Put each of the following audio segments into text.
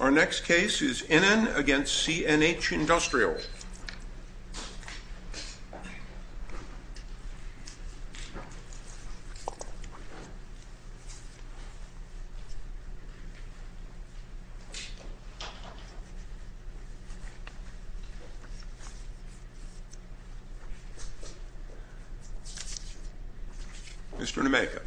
Our next case is Innen against CNH Industrials. Mr. Nemeka.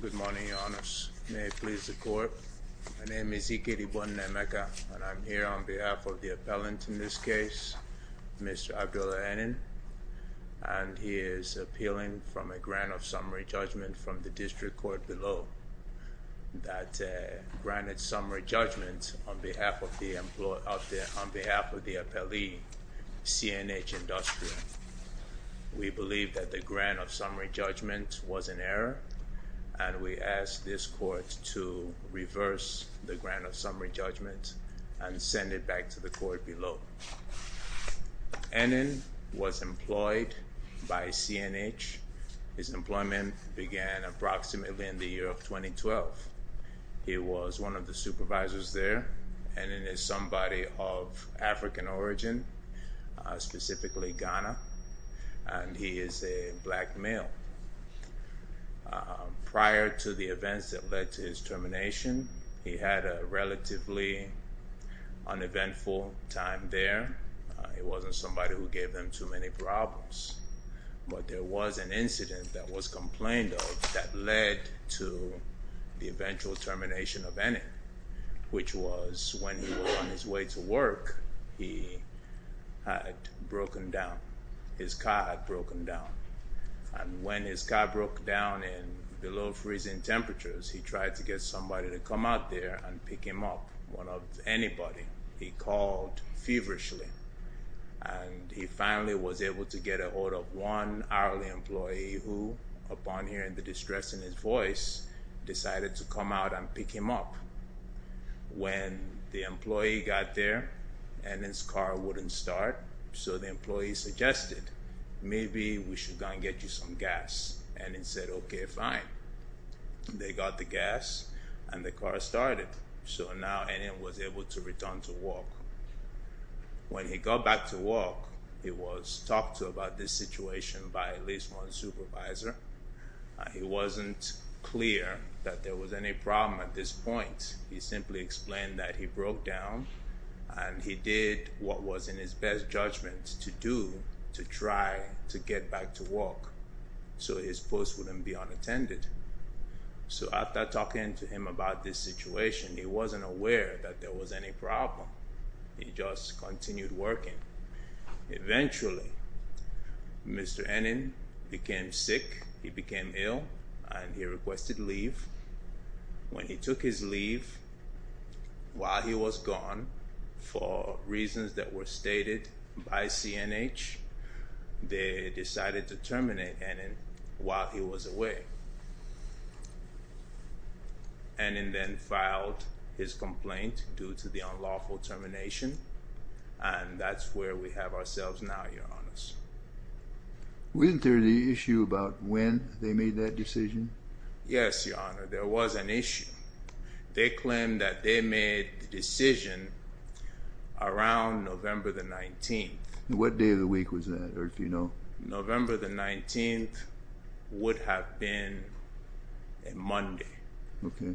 Good morning, Your Honours. May it please the Court. My name is Iker Ibun Nemeka, and I'm here on behalf of the appellant in this case, Mr. Abdulla Innen, and he is appealing from a grant of summary judgment from the district court below that granted summary judgment on behalf of the appellee, CNH Industrial. We believe that the grant of summary judgment was an error, and we ask this court to reverse the grant of summary judgment and send it back to the court below. Innen was employed by CNH. His employment began approximately in the year of 2012. He was one of the supervisors there. Innen is somebody of African origin, specifically Ghana, and he is a black male. Prior to the events that led to his termination, he had a relatively uneventful time there. He wasn't somebody who gave him too many problems, but there was an incident that was complained of that led to the eventual termination of Innen, which was when he was on his way to When his car broke down below freezing temperatures, he tried to get somebody to come out there and pick him up, one of anybody. He called feverishly, and he finally was able to get a hold of one hourly employee who, upon hearing the distress in his voice, decided to come out and pick him up. When the employee got there, Innen's car wouldn't start, so the employee suggested, maybe we should go and get you some gas. Innen said, okay, fine. They got the gas, and the car started, so now Innen was able to return to work. When he got back to work, he was talked to about this situation by at least one supervisor. It wasn't clear that there was any problem at this point. He simply explained that he broke down, and he did what was in his best judgment to do to try to get back to work so his post wouldn't be unattended. So after talking to him about this situation, he wasn't aware that there was any problem. He just continued working. Eventually, Mr. Innen became sick. He became ill, and he requested leave. When he took his leave, while he was gone, for reasons that were stated by CNH, they decided to terminate Innen while he was away. Innen then filed his complaint due to the unlawful termination, and that's where we have ourselves now, Your Honors. Wasn't there the issue about when they made that decision? Yes, Your Honor, there was an issue. They claimed that they made the decision around November the 19th. What day of the week was that, or do you know? November the 19th would have been a Monday. Okay.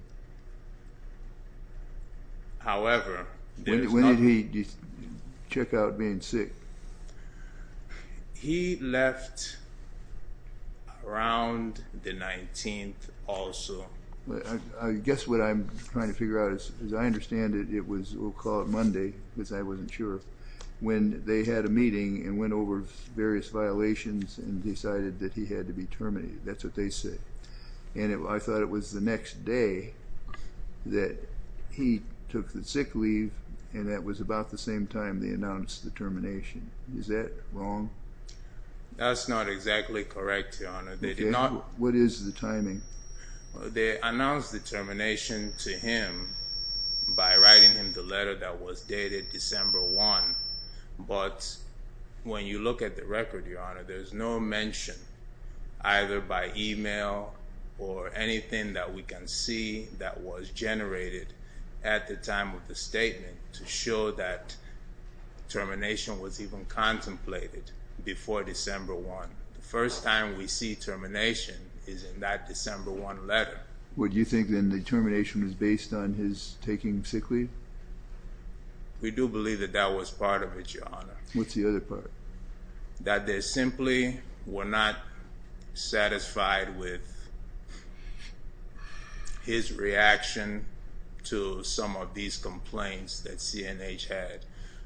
However, there's no— When did he check out being sick? He left around the 19th also. I guess what I'm trying to figure out is, as I understand it, it was, we'll call it Monday because I wasn't sure, when they had a meeting and went over various violations and decided that he had to be terminated. That's what they said. And I thought it was the next day that he took the sick leave, and that was about the same time they announced the termination. Is that wrong? That's not exactly correct, Your Honor. They did not— What is the timing? They announced the termination to him by writing him the letter that was dated December 1, but when you look at the record, Your Honor, there's no mention either by email or anything that we can see that was generated at the time of the statement to show that termination was even contemplated before December 1. The first time we see termination is in that December 1 letter. Well, do you think then the termination was based on his taking sick leave? We do believe that that was part of it, Your Honor. What's the other part? That they simply were not satisfied with his reaction to some of these complaints that CNH had.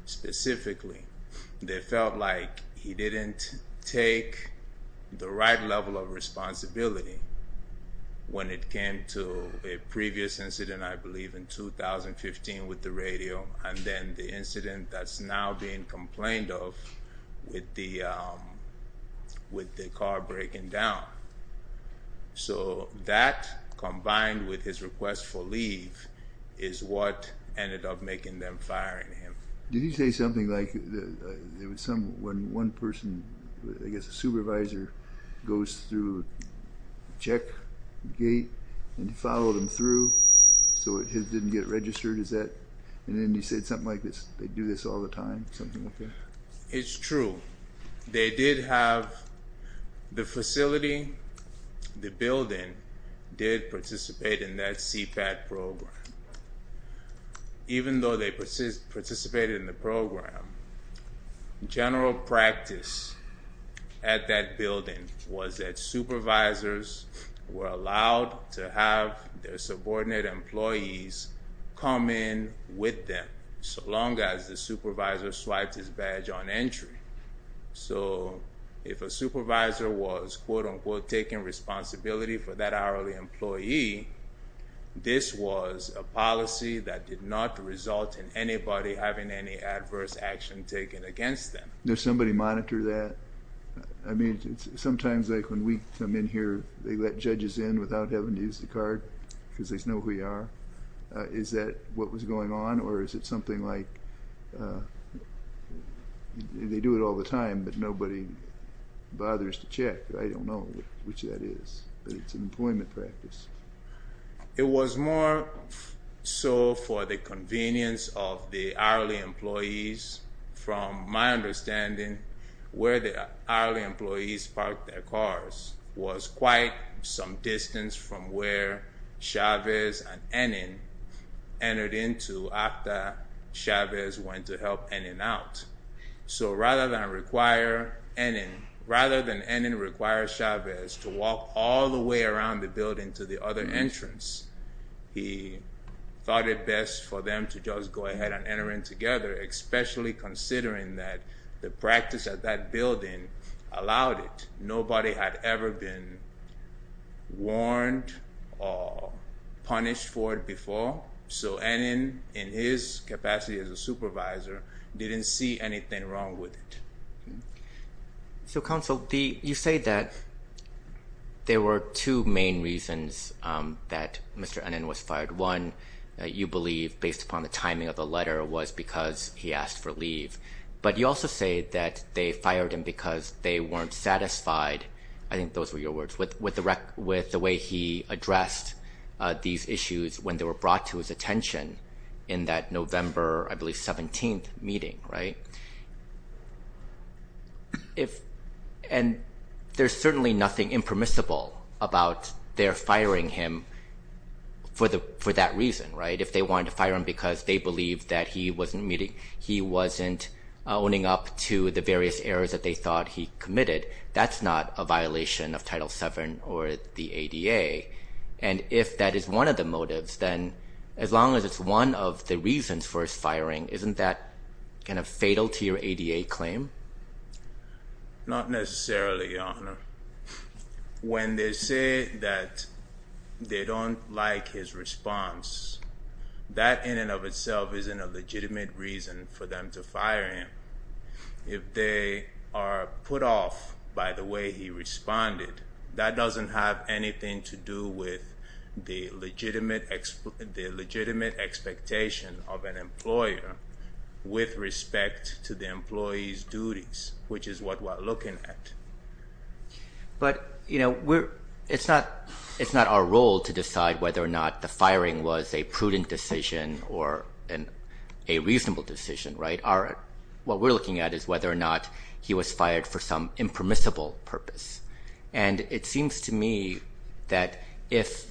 Specifically, they felt like he didn't take the right level of responsibility when it came to a previous incident, I believe, in 2015 with the radio, and then the incident that's now being complained of with the car breaking down. So that, combined with his request for leave, is what ended up making them fire him. Did he say something like when one person, I guess a supervisor, goes through a check gate and follow them through so it didn't get registered, is that? And then he said something like they do this all the time, something like that? It's true. They did have the facility, the building, did participate in that CPAT program. Even though they participated in the program, general practice at that building was that supervisors were allowed to have their subordinate employees come in with them so long as the supervisor swiped his badge on entry. So if a supervisor was, quote-unquote, taking responsibility for that hourly employee, this was a policy that did not result in anybody having any adverse action taken against them. Does somebody monitor that? I mean, sometimes like when we come in here, they let judges in without having to use the card because they know who you are. Is that what was going on, or is it something like they do it all the time, but nobody bothers to check? I don't know which that is, but it's an employment practice. It was more so for the convenience of the hourly employees. From my understanding, where the hourly employees parked their cars was quite some distance from where Chavez and Ennin entered into after Chavez went to help Ennin out. So rather than require Ennin, rather than Ennin require Chavez to walk all the way around the building to the other entrance, he thought it best for them to just go ahead and enter in together, especially considering that the practice at that building allowed it. Nobody had ever been warned or punished for it before, so Ennin, in his capacity as a supervisor, didn't see anything wrong with it. So, Counsel, you say that there were two main reasons that Mr. Ennin was fired. One, you believe, based upon the timing of the letter, was because he asked for leave, but you also say that they fired him because they weren't satisfied. I think those were your words. With the way he addressed these issues when they were brought to his attention in that November, I believe, 17th meeting, right? And there's certainly nothing impermissible about their firing him for that reason, right? If they wanted to fire him because they believed that he wasn't meeting, he wasn't owning up to the various errors that they thought he committed, that's not a violation of Title VII or the ADA. And if that is one of the motives, then as long as it's one of the reasons for his firing, isn't that kind of fatal to your ADA claim? Not necessarily, Your Honor. When they say that they don't like his response, that in and of itself isn't a legitimate reason for them to fire him. If they are put off by the way he responded, that doesn't have anything to do with the legitimate expectation of an employer with respect to the employee's duties, which is what we're looking at. But, you know, it's not our role to decide whether or not the firing was a prudent decision or a reasonable decision, right? What we're looking at is whether or not he was fired for some impermissible purpose. And it seems to me that if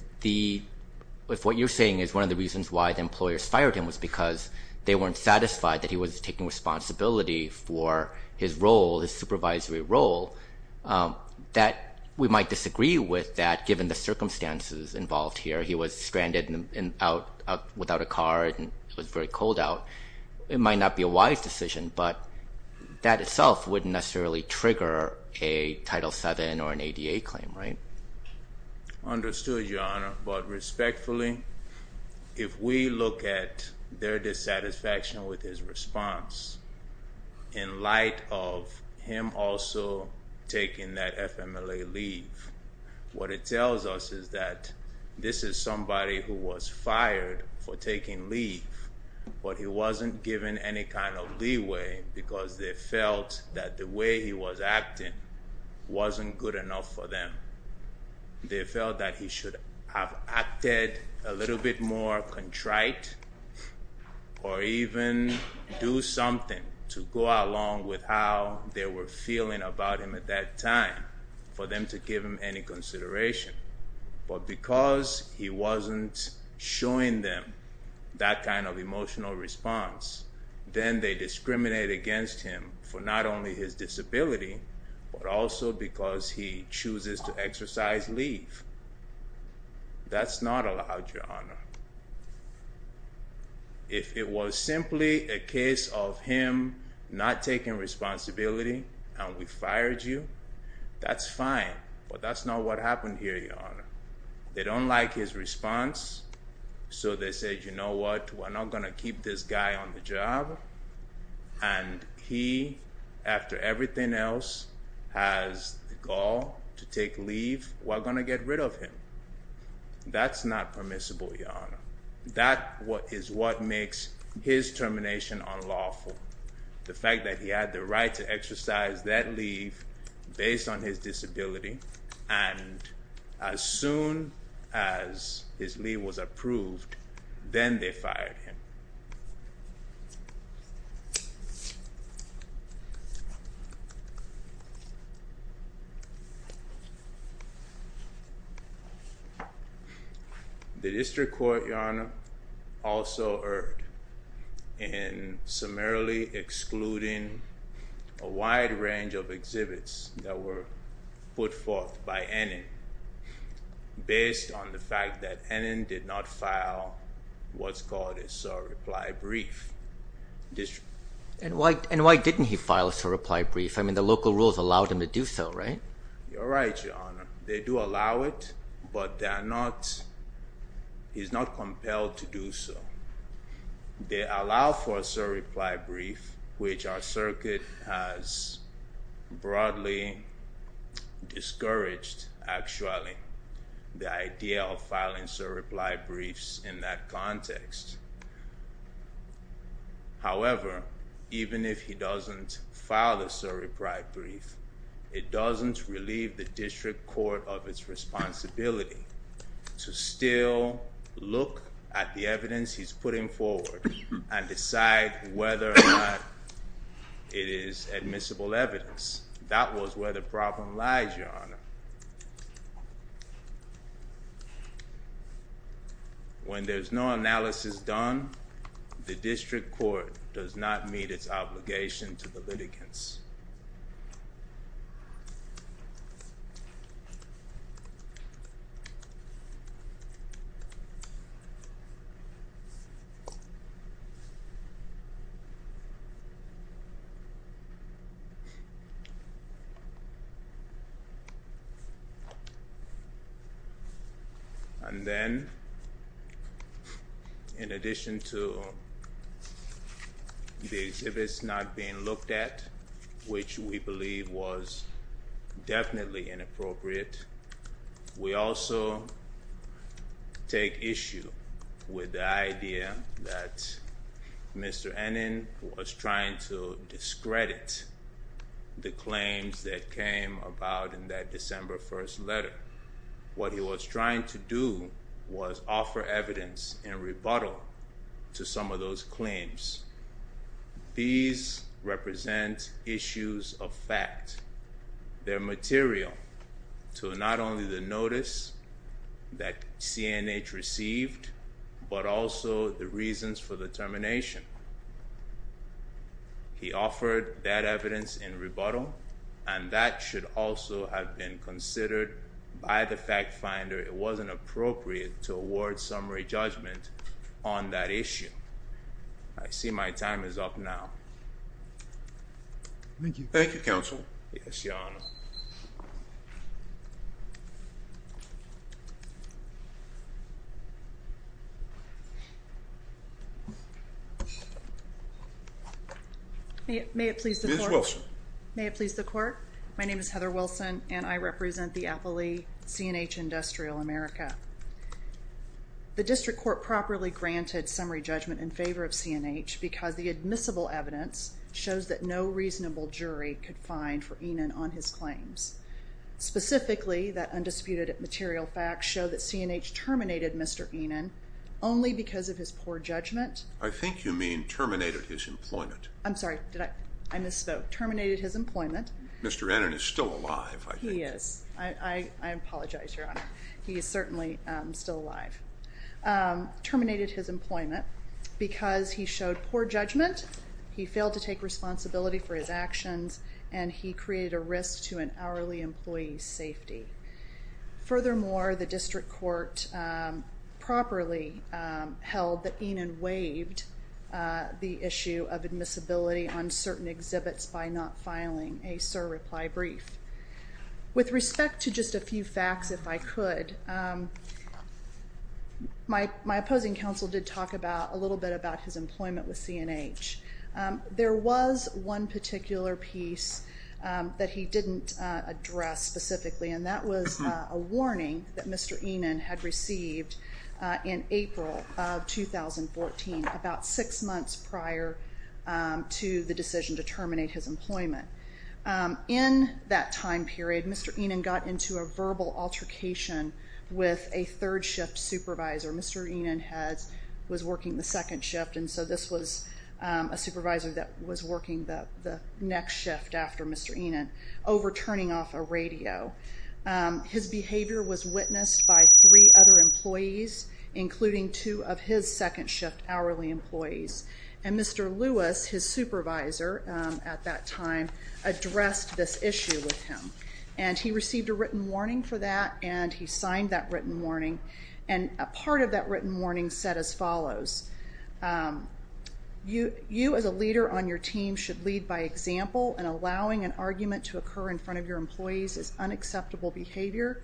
what you're saying is one of the reasons why the employers fired him was because they weren't satisfied that he was taking responsibility for his role, his supervisory role, that we might disagree with that given the circumstances involved here. He was stranded without a car and it was very cold out. It might not be a wise decision, but that itself wouldn't necessarily trigger a Title VII or an ADA claim, right? Understood, Your Honor. But respectfully, if we look at their dissatisfaction with his response in light of him also taking that FMLA leave, what it tells us is that this is somebody who was fired for taking leave, but he wasn't given any kind of leeway because they felt that the way he was acting wasn't good enough for them. They felt that he should have acted a little bit more contrite or even do something to go along with how they were feeling about him at that time for them to give him any consideration. But because he wasn't showing them that kind of emotional response, then they discriminate against him for not only his disability, but also because he chooses to exercise leave. That's not allowed, Your Honor. If it was simply a case of him not taking responsibility and we fired you, that's fine, but that's not what happened here, Your Honor. They don't like his response, so they said, you know what, we're not going to keep this guy on the job, and he, after everything else, has the gall to take leave. We're going to get rid of him. That's not permissible, Your Honor. That is what makes his termination unlawful. The fact that he had the right to exercise that leave based on his disability and as soon as his leave was approved, then they fired him. The District Court, Your Honor, also erred in summarily excluding a wide range of exhibits that were put forth by Ennin based on the fact that Ennin did not file what's called a sort of reply brief. And why didn't he file a sort of reply brief? I mean, the local rules allowed him to do so, right? You're right, Your Honor. They do allow it, but he's not compelled to do so. They allow for a sort of reply brief, which our circuit has broadly discouraged, actually, the idea of filing sort of reply briefs in that context. However, even if he doesn't file the sort of reply brief, it doesn't relieve the District Court of its responsibility to still look at the evidence he's putting forward and decide whether or not it is admissible evidence. That was where the problem lies, Your Honor. When there's no analysis done, the District Court does not meet its obligation to the litigants. And then, in addition to the exhibits not being looked at, which we believe was definitely inappropriate, we also take issue with the idea that Mr. Ennin was trying to discredit the claims that came about in that December 1st letter. What he was trying to do was offer evidence in rebuttal to some of those claims. These represent issues of fact. They're material to not only the notice that C&H received, but also the reasons for the termination. He offered that evidence in rebuttal, and that should also have been considered by the fact finder. It wasn't appropriate to award summary judgment on that issue. I see my time is up now. Yes, Your Honor. May it please the Court? Ms. Wilson. May it please the Court? My name is Heather Wilson, and I represent the affilee C&H Industrial America. The District Court properly granted summary judgment in favor of C&H because the admissible evidence shows that no reasonable jury could find for Ennin on his claims. Specifically, the undisputed material facts show that C&H terminated Mr. Ennin only because of his poor judgment. I think you mean terminated his employment. I'm sorry, I misspoke. Terminated his employment. Mr. Ennin is still alive, I think. He is. I apologize, Your Honor. He is certainly still alive. Terminated his employment because he showed poor judgment, he failed to take responsibility for his actions, and he created a risk to an hourly employee's safety. Furthermore, the District Court properly held that Ennin waived the issue of admissibility on certain exhibits by not filing a SIR reply brief. With respect to just a few facts, if I could, my opposing counsel did talk a little bit about his employment with C&H. There was one particular piece that he didn't address specifically, and that was a warning that Mr. Ennin had received in April of 2014, about six months prior to the decision to terminate his employment. In that time period, Mr. Ennin got into a verbal altercation with a third shift supervisor. Mr. Ennin was working the second shift, and so this was a supervisor that was working the next shift after Mr. Ennin, overturning off a radio. His behavior was witnessed by three other employees, including two of his second shift hourly employees. And Mr. Lewis, his supervisor at that time, addressed this issue with him. And he received a written warning for that, and he signed that written warning. And a part of that written warning said as follows, You as a leader on your team should lead by example, and allowing an argument to occur in front of your employees is unacceptable behavior.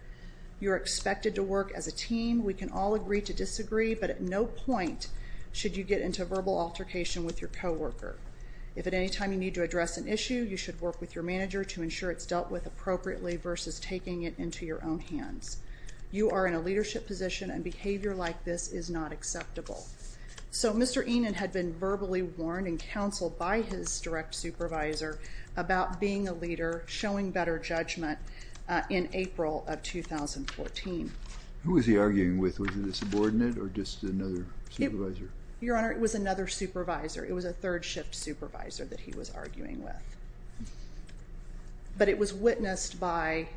You're expected to work as a team. We can all agree to disagree, but at no point should you get into a verbal altercation with your co-worker. If at any time you need to address an issue, you should work with your manager to ensure it's dealt with appropriately versus taking it into your own hands. You are in a leadership position, and behavior like this is not acceptable. So Mr. Ennin had been verbally warned and counseled by his direct supervisor about being a leader, showing better judgment in April of 2014. Who was he arguing with? Was it a subordinate or just another supervisor? Your Honor, it was another supervisor. It was a third shift supervisor that he was arguing with. But it was witnessed by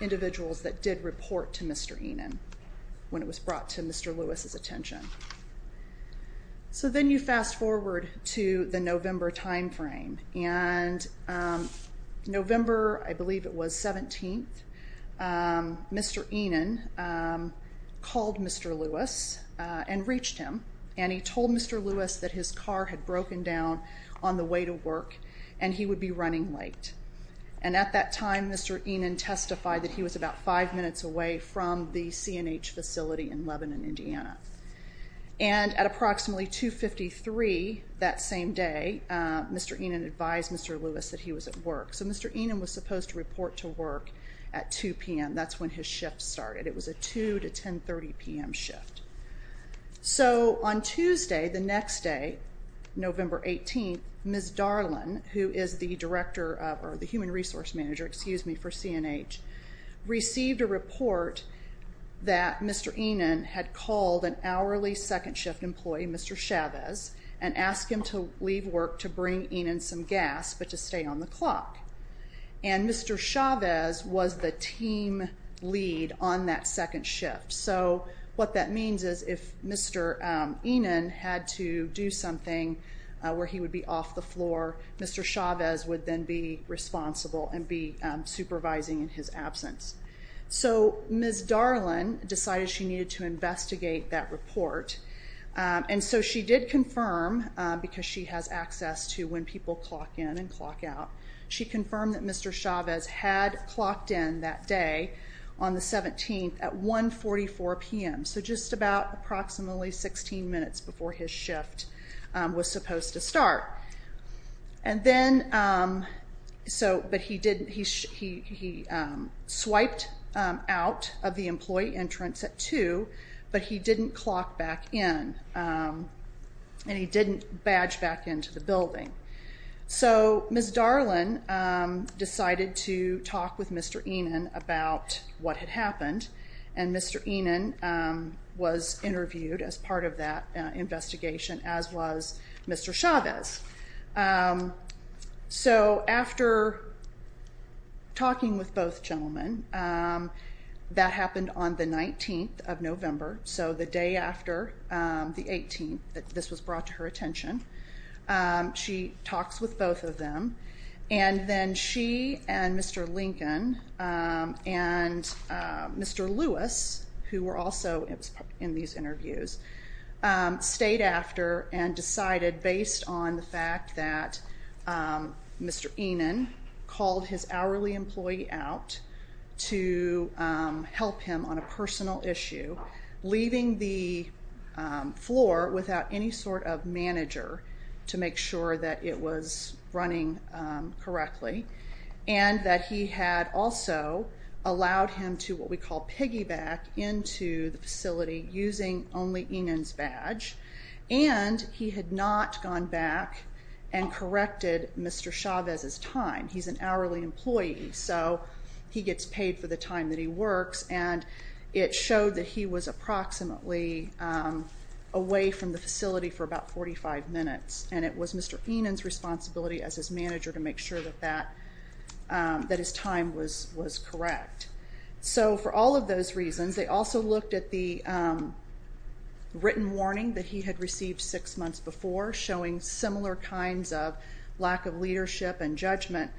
individuals that did report to Mr. Ennin when it was brought to Mr. Lewis's attention. So then you fast forward to the November time frame, and November, I believe it was, 17th, Mr. Ennin called Mr. Lewis and reached him, and he told Mr. Lewis that his car had broken down on the way to work, and he would be running late. And at that time, Mr. Ennin testified that he was about five minutes away from the CNH facility in Lebanon, Indiana. And at approximately 2.53 that same day, Mr. Ennin advised Mr. Lewis that he was at work. So Mr. Ennin was supposed to report to work at 2 p.m. That's when his shift started. It was a 2 to 10.30 p.m. shift. So on Tuesday, the next day, November 18th, Ms. Darlen, who is the human resource manager for CNH, received a report that Mr. Ennin had called an hourly second shift employee, Mr. Chavez, and asked him to leave work to bring Ennin some gas but to stay on the clock. And Mr. Chavez was the team lead on that second shift. So what that means is if Mr. Ennin had to do something where he would be off the floor, Mr. Chavez would then be responsible and be supervising in his absence. So Ms. Darlen decided she needed to investigate that report. And so she did confirm, because she has access to when people clock in and clock out, she confirmed that Mr. Chavez had clocked in that day on the 17th at 1.44 p.m., so just about approximately 16 minutes before his shift was supposed to start. But he swiped out of the employee entrance at 2, but he didn't clock back in, and he didn't badge back into the building. So Ms. Darlen decided to talk with Mr. Ennin about what had happened, and Mr. Ennin was interviewed as part of that investigation, as was Mr. Chavez. So after talking with both gentlemen, that happened on the 19th of November, so the day after the 18th that this was brought to her attention, she talks with both of them, and then she and Mr. Lincoln and Mr. Lewis, who were also in these interviews, stayed after and decided, based on the fact that Mr. Ennin called his hourly employee out to help him on a personal issue, leaving the floor without any sort of manager to make sure that it was running correctly, and that he had also allowed him to what we call piggyback into the facility using only Ennin's badge, and he had not gone back and corrected Mr. Chavez's time. He's an hourly employee, so he gets paid for the time that he works, and it showed that he was approximately away from the facility for about 45 minutes, and it was Mr. Ennin's responsibility as his manager to make sure that his time was correct. So for all of those reasons, they also looked at the written warning that he had received six months before, showing similar kinds of lack of leadership and judgment.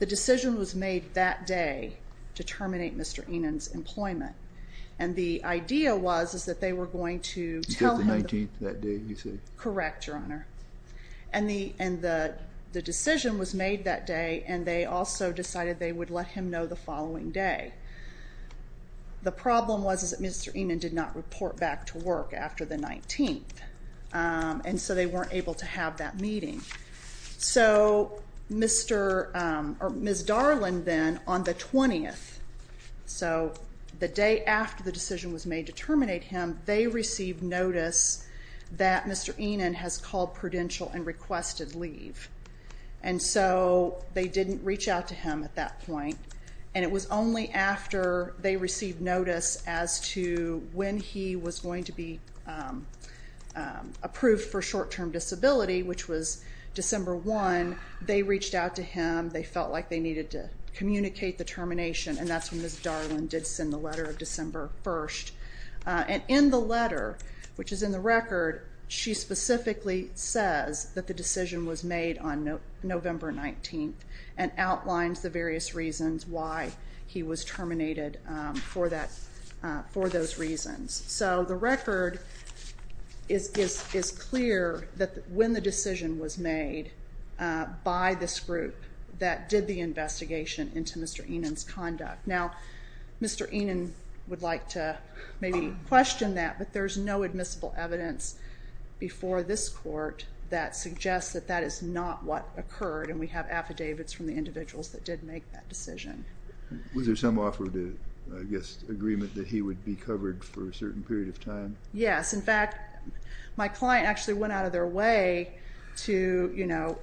The decision was made that day to terminate Mr. Ennin's employment, and the idea was that they were going to tell him. You said the 19th that day, you said? Correct, Your Honor. And the decision was made that day, and they also decided they would let him know the following day. The problem was that Mr. Ennin did not report back to work after the 19th, and so they weren't able to have that meeting. So Ms. Darling then, on the 20th, so the day after the decision was made to terminate him, they received notice that Mr. Ennin has called Prudential and requested leave. And so they didn't reach out to him at that point, and it was only after they received notice as to when he was going to be approved for short-term disability, which was December 1, they reached out to him. They felt like they needed to communicate the termination, and that's when Ms. Darling did send the letter of December 1. And in the letter, which is in the record, she specifically says that the decision was made on November 19th and outlines the various reasons why he was terminated for those reasons. So the record is clear that when the decision was made by this group that did the investigation into Mr. Ennin's conduct. Now, Mr. Ennin would like to maybe question that, but there's no admissible evidence before this Court that suggests that that is not what occurred, and we have affidavits from the individuals that did make that decision. Was there some offer to, I guess, agreement that he would be covered for a certain period of time? Yes. In fact, my client actually went out of their way to, you know,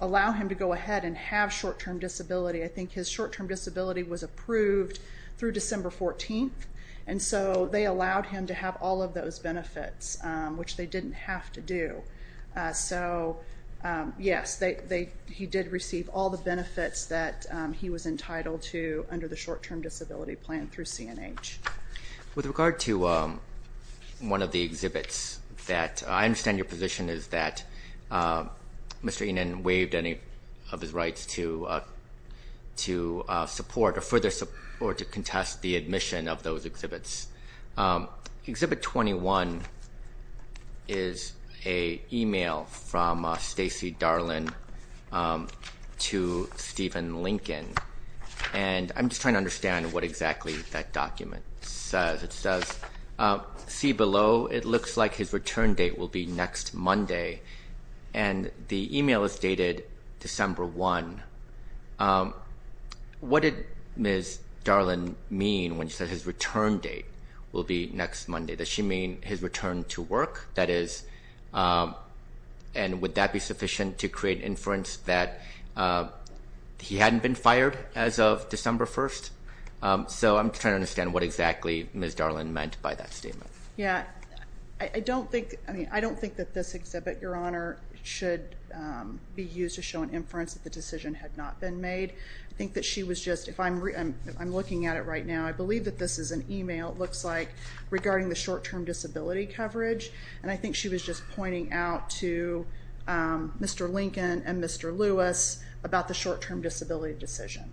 allow him to go ahead and have short-term disability. I think his short-term disability was approved through December 14th, and so they allowed him to have all of those benefits, which they didn't have to do. So, yes, he did receive all the benefits that he was entitled to under the short-term disability plan through CNH. With regard to one of the exhibits, I understand your position is that Mr. Ennin waived any of his rights to support or further support or to contest the admission of those exhibits. Exhibit 21 is a e-mail from Stacey Darling to Stephen Lincoln, and I'm just trying to understand what exactly that document says. It says, see below, it looks like his return date will be next Monday, and the e-mail is dated December 1. What did Ms. Darling mean when she said his return date will be next Monday? Does she mean his return to work? That is, and would that be sufficient to create inference that he hadn't been fired as of December 1st? So I'm trying to understand what exactly Ms. Darling meant by that statement. Yes. I don't think that this exhibit, Your Honor, should be used to show an inference that the decision had not been made. I think that she was just, if I'm looking at it right now, I believe that this is an e-mail, it looks like, regarding the short-term disability coverage, and I think she was just pointing out to Mr. Lincoln and Mr. Lewis about the short-term disability decision.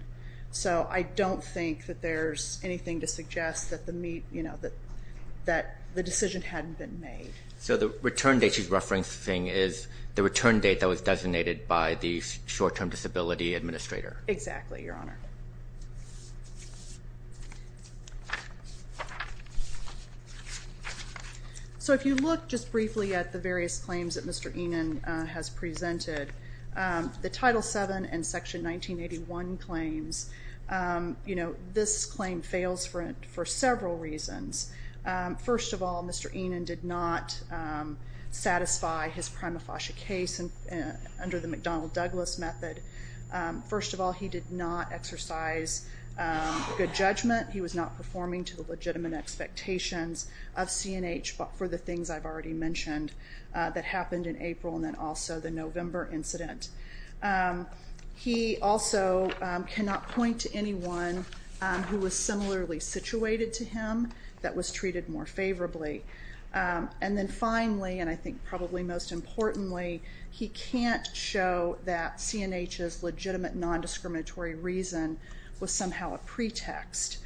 So I don't think that there's anything to suggest that the decision hadn't been made. So the return date she's referencing is the return date that was designated by the short-term disability administrator. Exactly, Your Honor. So if you look just briefly at the various claims that Mr. Enan has presented, the Title VII and Section 1981 claims, you know, this claim fails for several reasons. First of all, Mr. Enan did not satisfy his prima facie case under the McDonnell-Douglas method. First of all, he did not exercise good judgment. He was not performing to the legitimate expectations of CNH for the things I've already mentioned that happened in April and then also the November incident. He also cannot point to anyone who was similarly situated to him that was treated more favorably. And then finally, and I think probably most importantly, he can't show that CNH's legitimate nondiscriminatory reason was somehow a pretext.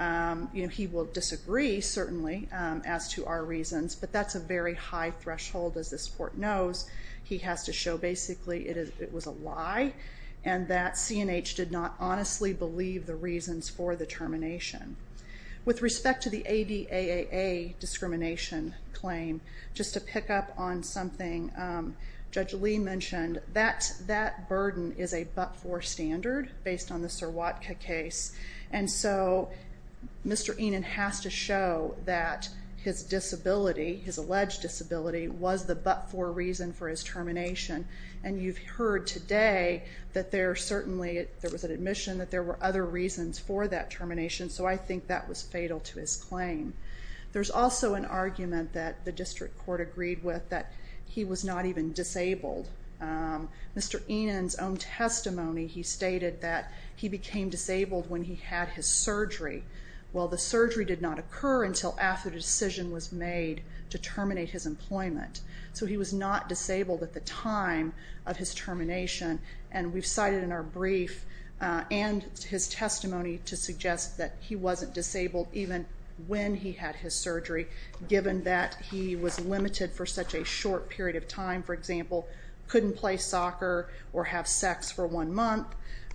You know, he will disagree, certainly, as to our reasons, but that's a very high threshold. As this Court knows, he has to show basically it was a lie and that CNH did not honestly believe the reasons for the termination. With respect to the ADAAA discrimination claim, just to pick up on something Judge Lee mentioned, that burden is a but-for standard based on the Surwatka case. And so Mr. Enan has to show that his disability, his alleged disability, was the but-for reason for his termination. And you've heard today that there certainly was an admission that there were other reasons for that termination, so I think that was fatal to his claim. There's also an argument that the District Court agreed with that he was not even disabled. Mr. Enan's own testimony, he stated that he became disabled when he had his surgery. Well, the surgery did not occur until after the decision was made to terminate his employment, so he was not disabled at the time of his termination. And we've cited in our brief and his testimony to suggest that he wasn't disabled even when he had his surgery, given that he was limited for such a short period of time. For example, couldn't play soccer or have sex for one month,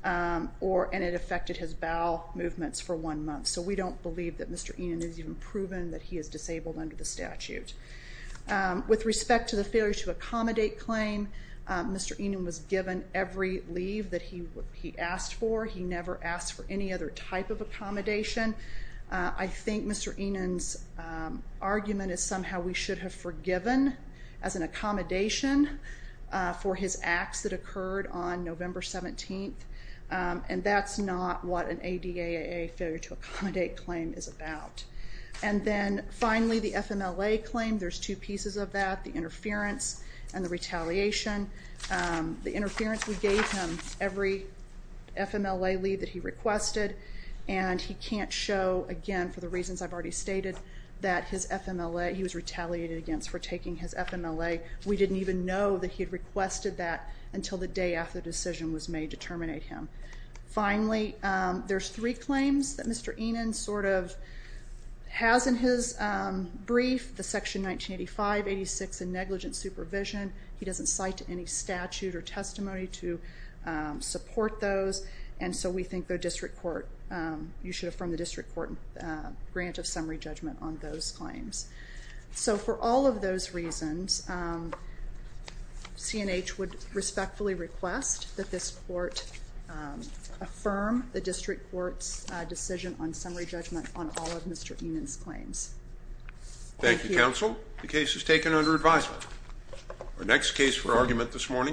and it affected his bowel movements for one month. So we don't believe that Mr. Enan has even proven that he is disabled under the statute. With respect to the failure to accommodate claim, Mr. Enan was given every leave that he asked for. He never asked for any other type of accommodation. I think Mr. Enan's argument is somehow we should have forgiven as an accommodation for his acts that occurred on November 17th, and that's not what an ADAA failure to accommodate claim is about. And then finally, the FMLA claim, there's two pieces of that, the interference and the retaliation. The interference, we gave him every FMLA leave that he requested, and he can't show, again, for the reasons I've already stated, that his FMLA, he was retaliated against for taking his FMLA. We didn't even know that he had requested that until the day after the decision was made to terminate him. Finally, there's three claims that Mr. Enan sort of has in his brief. The Section 1985, 86, and negligent supervision, he doesn't cite any statute or testimony to support those, and so we think the district court, you should affirm the district court grant of summary judgment on those claims. So for all of those reasons, C&H would respectfully request that this court affirm the district court's decision on summary judgment on all of Mr. Enan's claims. Thank you, counsel. The case is taken under advisement. Our next case for argument this morning...